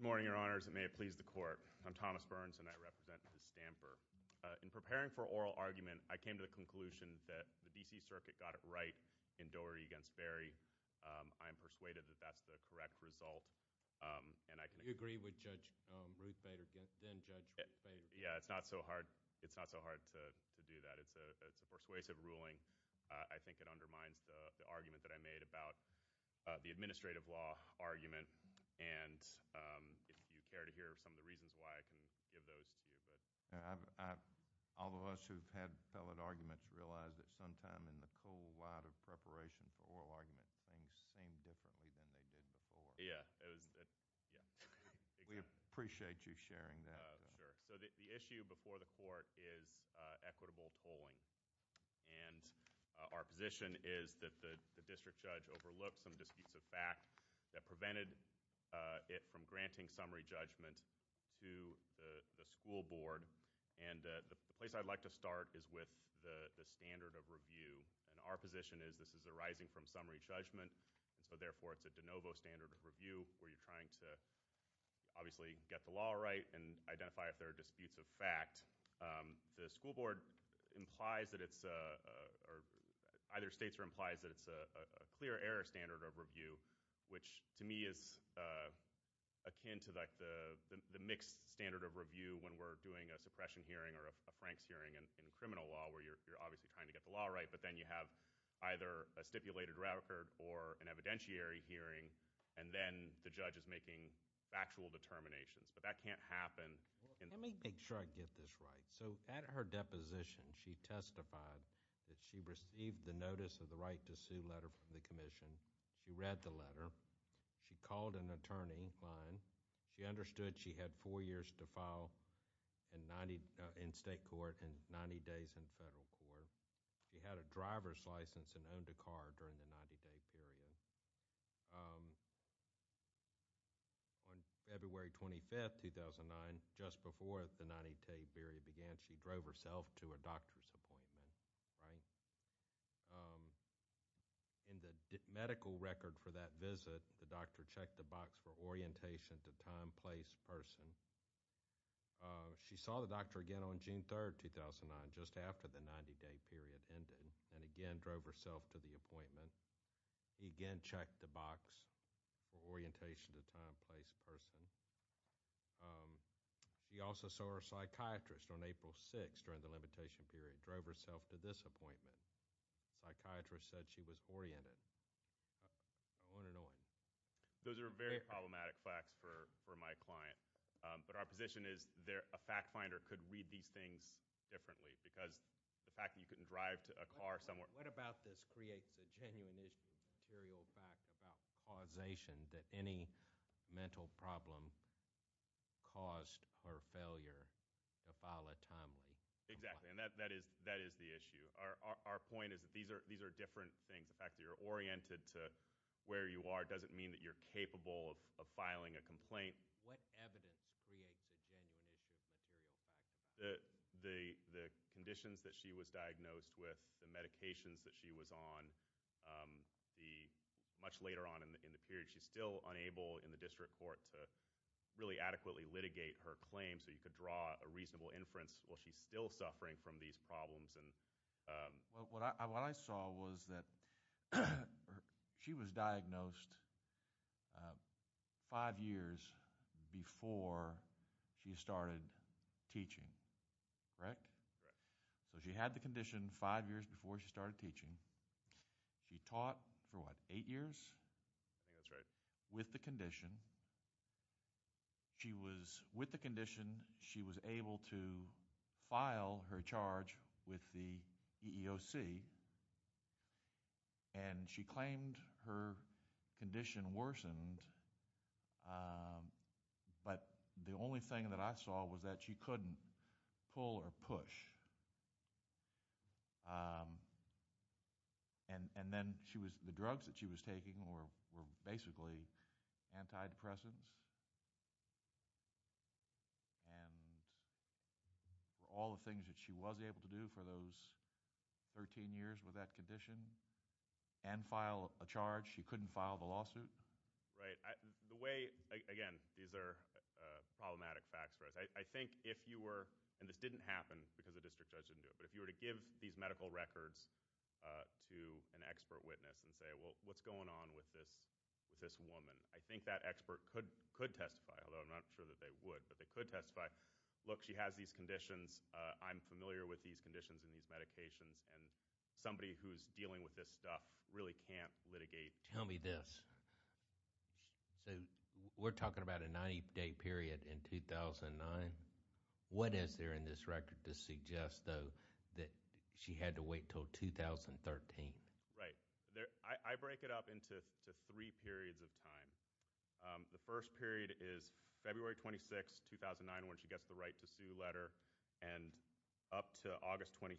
Good morning, Your Honors, and may it please the Court. I'm Thomas Burns, and I represent Ms. Stamper. In preparing for oral argument, I came to the conclusion that the D.C. Circuit got it right in Doherty v. Berry. I am persuaded that that's the correct result, and I can agree with Judge Ruth Bader. It's not so hard to do that. It's a persuasive ruling. I think it undermines the argument that I made about the administrative law argument, and if you care to hear some of the reasons why, I can give those to you. All of us who have had appellate arguments realize that sometimes in the cold light of preparation for oral argument, things seem differently than they did before. We appreciate you sharing that. Sure. So the issue before the Court is equitable tolling, and our position is that the district judge overlooked some disputes of fact that prevented it from granting summary judgment to the school board, and the place I'd like to start is with the standard of review, and our position is this is arising from summary judgment, and so therefore it's a de novo standard of review where you're trying to obviously get the law right and identify if there are disputes of fact. The school board implies that it's a—either states or implies that it's a clear error standard of review, which to me is akin to like the mixed standard of review when we're doing a suppression hearing or a Franks hearing in criminal law where you're obviously trying to get the law right, but then you have either a stipulated record or an evidentiary hearing, and then the judge is making factual determinations, but that can't happen— Let me make sure I get this right. So at her deposition, she testified that she received the notice of the right to sue letter from the Commission. She read the letter. She called an attorney, Klein. She understood she had four years to file in 90—in state court and 90 days in federal court. She had a driver's license and owned a car during the 90-day period. On February 25, 2009, just before the 90-day period began, she drove herself to a doctor's appointment, right? In the medical record for that visit, the doctor checked the box for orientation to time, place, person. She saw the doctor again on June 3, 2009, just after the 90-day period ended, and again drove herself to the appointment. He again checked the box for orientation to time, place, person. She also saw her psychiatrist on April 6 during the limitation period, drove herself to this appointment. Psychiatrist said she was oriented, unannoyed. Those are very problematic facts for my client, but our position is a fact finder could read these things differently because the fact that you couldn't drive to a car somewhere— What about this creates a genuine issue of material fact about causation that any mental problem caused her failure to file a timely complaint? Exactly, and that is the issue. Our point is that these are different things. The fact that you're oriented to where you are doesn't mean that you're capable of filing a complaint. What evidence creates a genuine issue of material fact about causation? The conditions that she was diagnosed with, the medications that she was on, much later on in the period, she's still unable in the district court to really adequately litigate her claims so you could draw a reasonable inference, well, she's still suffering from these problems. What I saw was that she was diagnosed five years before she started teaching, correct? Correct. So she had the condition five years before she started teaching. She taught for what, eight years? I think that's right. With the condition, she was able to file her charge with the EEOC and she claimed her condition worsened, but the only thing that I saw was that she couldn't pull or push. And then the drugs that she was taking were basically antidepressants and all the things that she was able to do for those 13 years with that condition and file a charge, she couldn't file the lawsuit. Right. Again, these are problematic facts for us. I think if you were, and this didn't happen because the district judge didn't do it, but if you were to give these medical records to an expert witness and say, well, what's going on with this woman? I think that expert could testify, although I'm not sure that they would, but they could testify, look, she has these conditions, I'm familiar with these conditions and these medications and somebody who's dealing with this stuff really can't litigate. Tell me this, so we're talking about a 90-day period in 2009. What is there in this record to suggest, though, that she had to wait until 2013? Right. I break it up into three periods of time. The first period is February 26, 2009 when she gets the right to sue letter and up to that point,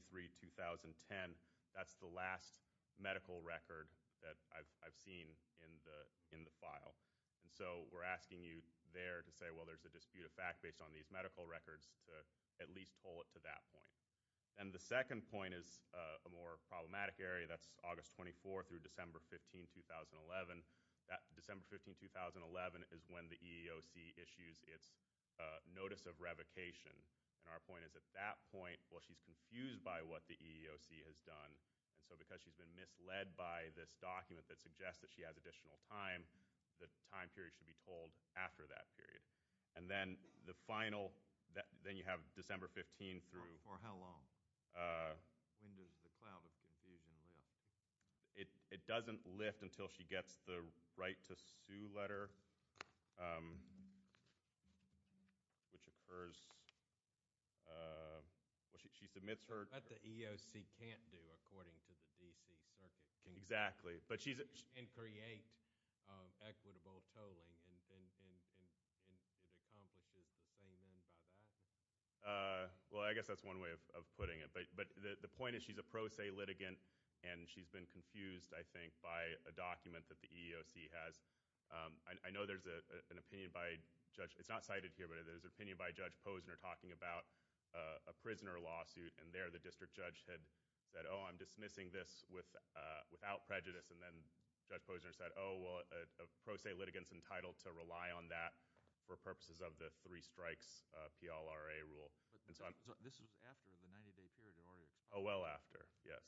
we're asking you there to say, well, there's a dispute of fact based on these medical records to at least hold it to that point. And the second point is a more problematic area, that's August 24 through December 15, 2011. December 15, 2011 is when the EEOC issues its notice of revocation, and our point is at that point, well, she's confused by what the EEOC has done, and so because she's been misled by this document that suggests that she has additional time, the time period should be told after that period. And then the final, then you have December 15 through... For how long? When does the cloud of confusion lift? It doesn't lift until she gets the right to sue letter, which occurs, well, she submits her... That the EEOC can't do according to the D.C. Circuit. Exactly. And create equitable tolling, and it accomplishes the same end by that? Well, I guess that's one way of putting it, but the point is she's a pro se litigant and she's been confused, I think, by a document that the EEOC has. I know there's an opinion by Judge, it's not cited here, but there's an opinion by Judge that the district judge had said, oh, I'm dismissing this without prejudice, and then Judge Posner said, oh, well, a pro se litigant's entitled to rely on that for purposes of the three strikes PLRA rule. So this was after the 90-day period had already expired? Oh, well after, yes.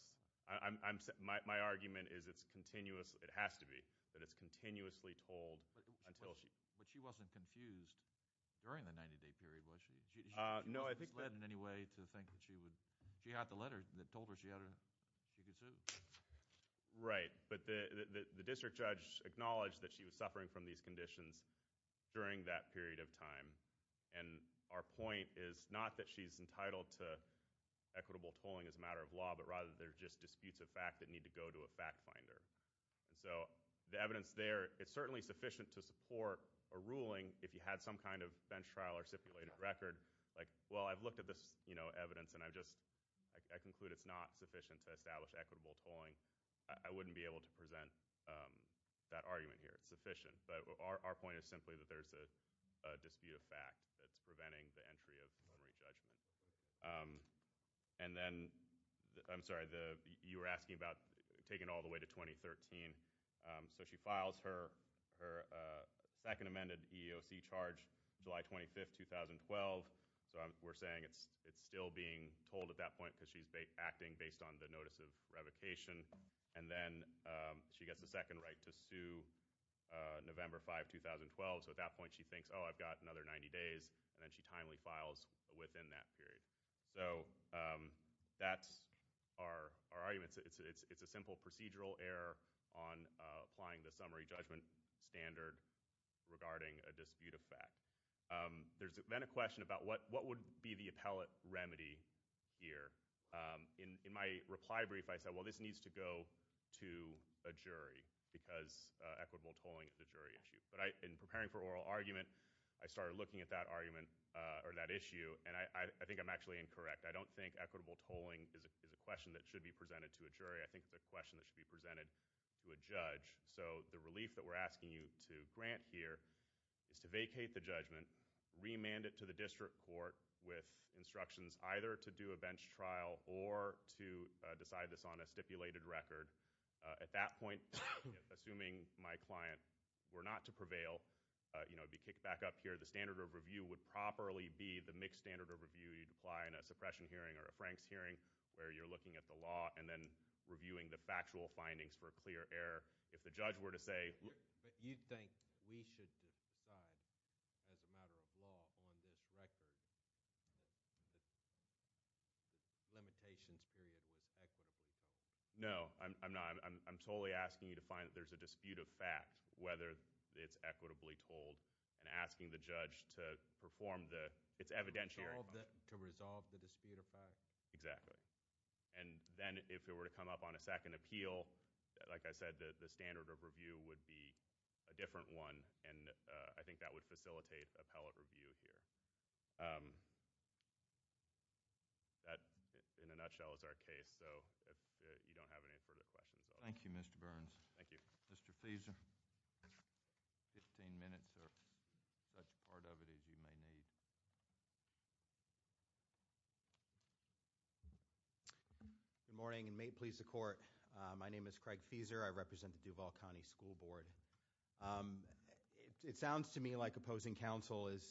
My argument is it's continuous, it has to be, that it's continuously told until she... But she wasn't confused during the 90-day period, was she? She wasn't led in any way to think that she would... She had the letter that told her she could sue. Right. But the district judge acknowledged that she was suffering from these conditions during that period of time, and our point is not that she's entitled to equitable tolling as a matter of law, but rather they're just disputes of fact that need to go to a fact finder. And so the evidence there, it's certainly sufficient to support a ruling if you had some kind of bench trial or stipulated record, like, well, I've looked at this evidence, and I conclude it's not sufficient to establish equitable tolling. I wouldn't be able to present that argument here. It's sufficient. But our point is simply that there's a dispute of fact that's preventing the entry of summary judgment. And then, I'm sorry, you were asking about taking it all the way to 2013. So she files her second amended EEOC charge July 25, 2012. So we're saying it's still being tolled at that point because she's acting based on the notice of revocation. And then she gets the second right to sue November 5, 2012. So at that point, she thinks, oh, I've got another 90 days, and then she timely files within that period. So that's our argument. It's a simple procedural error on applying the summary judgment standard regarding a dispute of fact. There's then a question about what would be the appellate remedy here. In my reply brief, I said, well, this needs to go to a jury because equitable tolling is a jury issue. But in preparing for oral argument, I started looking at that argument or that issue, and I think I'm actually incorrect. I don't think equitable tolling is a question that should be presented to a jury. I think it's a question that should be presented to a judge. So the relief that we're asking you to grant here is to vacate the judgment, remand it to the district court with instructions either to do a bench trial or to decide this on a stipulated record. At that point, assuming my client were not to prevail, it would be kicked back up here. The standard of review would properly be the mixed standard of review you'd apply in a suppression hearing or a Franks hearing where you're looking at the law and then reviewing the factual findings for a clear error. If the judge were to say— But you think we should decide as a matter of law on this record that the limitations period was equitably tolled? No, I'm not. I'm totally asking you to find that there's a dispute of fact, whether it's equitably tolled and asking the judge to perform the—it's evidentiary. To resolve the dispute of fact? Exactly. And then if it were to come up on a second appeal, like I said, the standard of review would be a different one, and I think that would facilitate appellate review here. That, in a nutshell, is our case. So if you don't have any further questions— Thank you, Mr. Burns. Thank you. Mr. Fieser, 15 minutes or such part of it as you may need. Good morning, and may it please the Court. My name is Craig Fieser. I represent the Duval County School Board. It sounds to me like opposing counsel is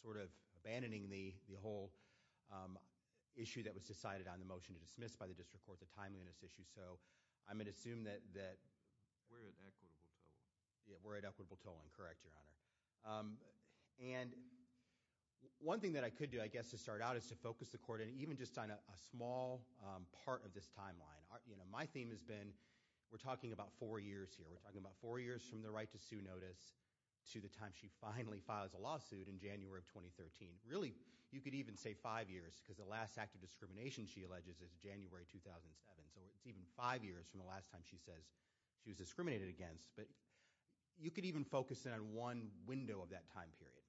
sort of abandoning the whole issue that was decided on the motion to dismiss by the district court, the timeliness issue. So I'm going to assume that— We're at equitable tolling. Yeah, we're at equitable tolling. Correct, Your Honor. And one thing that I could do, I guess, to start out is to focus the Court on even just on a small part of this timeline. My theme has been we're talking about four years here. We're talking about four years from the right to sue notice to the time she finally files a lawsuit in January of 2013. Really, you could even say five years, because the last act of discrimination, she alleges, is January 2007. So it's even five years from the last time she says she was discriminated against. But you could even focus in on one window of that time period.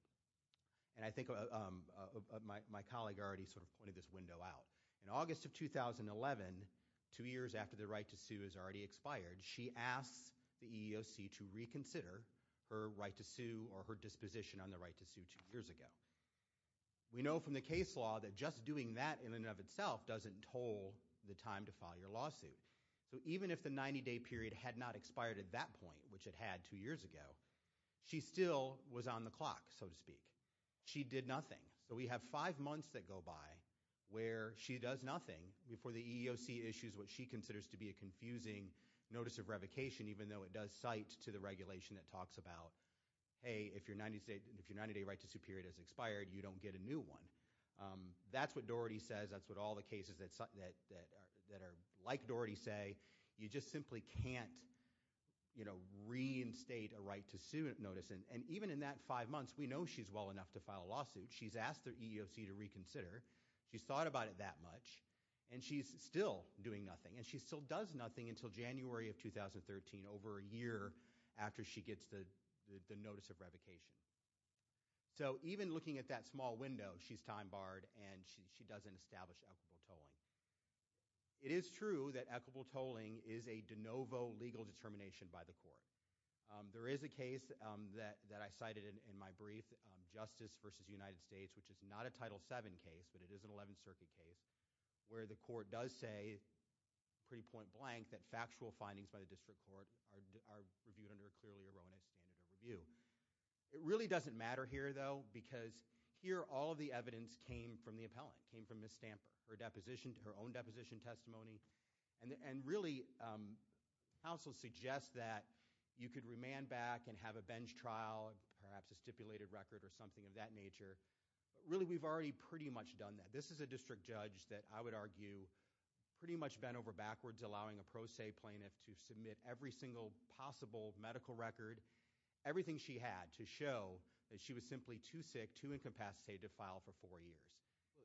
And I think my colleague already sort of pointed this window out. In August of 2011, two years after the right to sue has already expired, she asks the EEOC to reconsider her right to sue or her disposition on the right to sue two years ago. We know from the case law that just doing that in and of itself doesn't toll the time to file your lawsuit. So even if the 90-day period had not expired at that point, which it had two years ago, she still was on the clock, so to speak. She did nothing. So we have five months that go by where she does nothing before the EEOC issues what she considers to be a confusing notice of revocation, even though it does cite to the regulation that talks about, hey, if your 90-day right to sue period has expired, you don't get a new one. That's what Doherty says. That's what all the cases that are like Doherty say. You just simply can't reinstate a right to sue notice. And even in that five months, we know she's well enough to file a lawsuit. She's asked the EEOC to reconsider. She's thought about it that much. And she's still doing nothing. And she still does nothing until January of 2013, over a year after she gets the notice of revocation. So even looking at that small window, she's time barred, and she doesn't establish equitable tolling. It is true that equitable tolling is a de novo legal determination by the court. There is a case that I cited in my brief, Justice v. United States, which is not a Title VII case, but it is an 11th Circuit case, where the court does say, pretty point blank, that factual findings by the district court are reviewed under a clearly erroneous standard of review. It really doesn't matter here, though, because here all of the evidence came from the appellant, came from Ms. Stamper, her own deposition testimony. And really, counsel suggests that you could remand back and have a bench trial, perhaps a stipulated record or something of that nature. But really, we've already pretty much done that. This is a district judge that I would argue pretty much bent over backwards allowing a pro se plaintiff to submit every single possible medical record. Everything she had to show that she was simply too sick, too incapacitated to file for four years.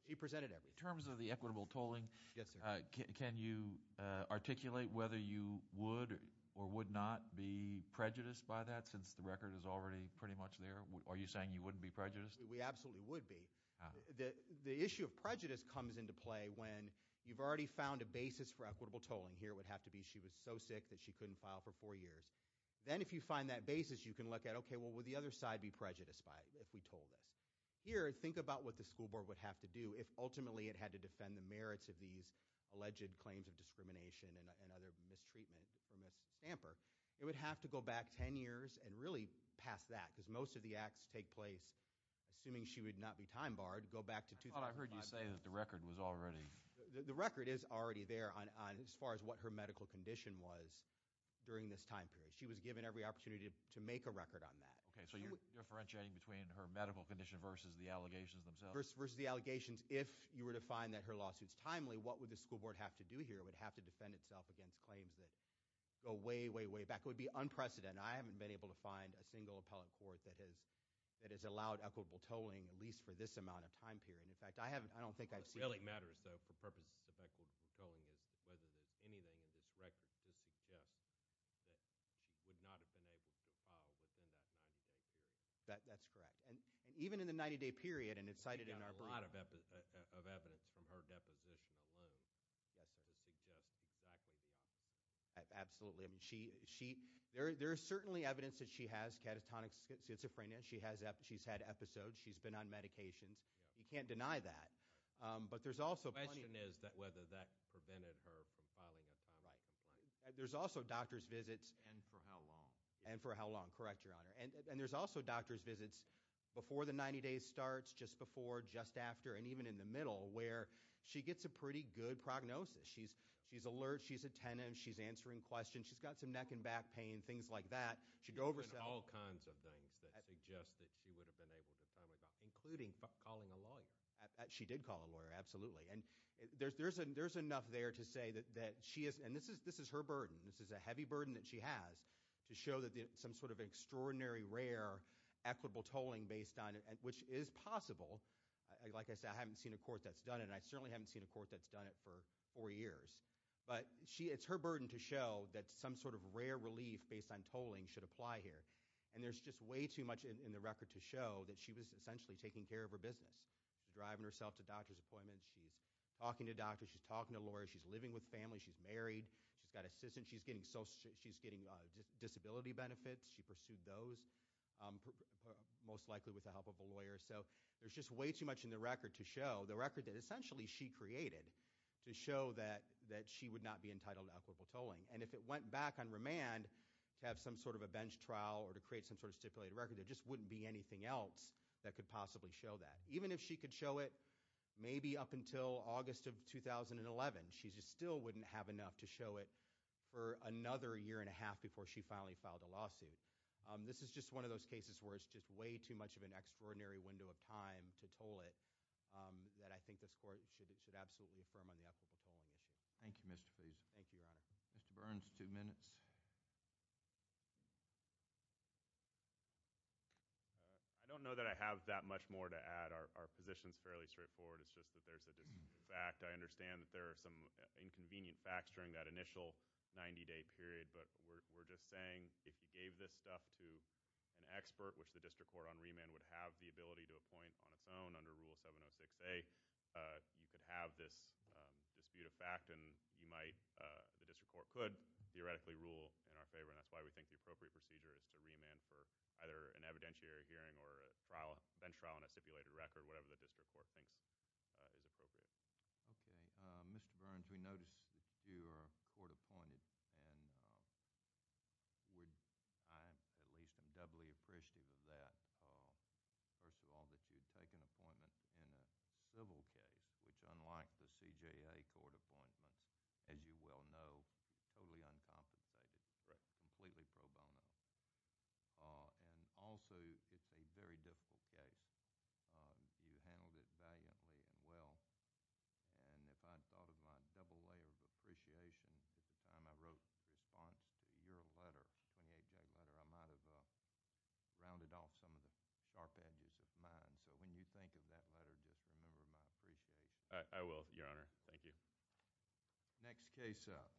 She presented everything. In terms of the equitable tolling, can you articulate whether you would or would not be prejudiced by that, since the record is already pretty much there? Are you saying you wouldn't be prejudiced? We absolutely would be. The issue of prejudice comes into play when you've already found a basis for equitable tolling. Here it would have to be she was so sick that she couldn't file for four years. Then if you find that basis, you can look at, okay, well, would the other side be prejudiced by it if we told this? Here, think about what the school board would have to do if ultimately it had to defend the merits of these alleged claims of discrimination and other mistreatment for Ms. Stamper. It would have to go back ten years and really pass that, because most of the acts take place assuming she would not be time barred, go back to 2005. I thought I heard you say that the record was already. The record is already there on as far as what her medical condition was during this time period. She was given every opportunity to make a record on that. Okay, so you're differentiating between her medical condition versus the allegations themselves? Versus the allegations. If you were to find that her lawsuit's timely, what would the school board have to do here? It would have to defend itself against claims that go way, way, way back. It would be unprecedented. I haven't been able to find a single appellate court that has allowed equitable tolling, at least for this amount of time period. In fact, I don't think I've seen one. What really matters, though, for purposes of equitable tolling is whether there's anything in this record to suggest that she would not have been able to file within that 90-day period. That's correct. And even in the 90-day period, and it's cited in our brief. She got a lot of evidence from her deposition alone to suggest exactly the opposite. Absolutely. There is certainly evidence that she has catatonic schizophrenia. She's had episodes. She's been on medications. You can't deny that. Right. The question is whether that prevented her from filing a timely complaint. Right. There's also doctor's visits. And for how long? And for how long. Correct, Your Honor. And there's also doctor's visits before the 90-day starts, just before, just after, and even in the middle, where she gets a pretty good prognosis. She's alert. She's attentive. She's answering questions. She's got some neck and back pain, things like that. She'd oversell. There's been all kinds of things that suggest that she would have been able to timely file, including calling a lawyer. She did call a lawyer. Absolutely. And there's enough there to say that she is, and this is her burden. This is a heavy burden that she has to show that some sort of extraordinary, rare, equitable tolling based on it, which is possible. Like I said, I haven't seen a court that's done it. And I certainly haven't seen a court that's done it for four years. But it's her burden to show that some sort of rare relief based on tolling should apply here. And there's just way too much in the record to show that she was essentially taking care of her business. She's driving herself to doctor's appointments. She's talking to doctors. She's talking to lawyers. She's living with family. She's married. She's got assistants. She's getting disability benefits. She pursued those, most likely with the help of a lawyer. So there's just way too much in the record to show, the record that essentially she created, to show that she would not be entitled to equitable tolling. And if it went back on remand to have some sort of a bench trial or to create some sort of stipulated record, there just wouldn't be anything else that could possibly show that. Even if she could show it maybe up until August of 2011, she just still wouldn't have enough to show it for another year and a half before she finally filed a lawsuit. This is just one of those cases where it's just way too much of an extraordinary window of time to toll it that I think this court should absolutely affirm on the equitable tolling issue. Thank you, Mr. Feason. Thank you, Your Honor. Mr. Burns, two minutes. I don't know that I have that much more to add. Our position is fairly straightforward. It's just that there's a fact. I understand that there are some inconvenient facts during that initial 90-day period, but we're just saying if you gave this stuff to an expert, which the district court on remand would have the ability to appoint on its own under Rule 706A, you could have this dispute of fact, and the district court could theoretically rule in our favor, and that's why we think the appropriate procedure is to remand for either an evidentiary hearing or a bench trial on a stipulated record, whatever the district court thinks is appropriate. Okay. Mr. Burns, we noticed that you are court-appointed, and I at least am doubly appreciative of that. First of all, that you'd take an appointment in a civil case, which unlike the CJA court appointments, as you well know, totally uncompensated, completely pro bono, and also it's a very difficult case. You handled it valiantly and well, and if I'd thought of my double layer of appreciation at the time I wrote the response to your letter, I might have rounded off some of the sharp edges of mine, so when you think of that letter, just remember my appreciation. I will, Your Honor. Thank you. Next case up.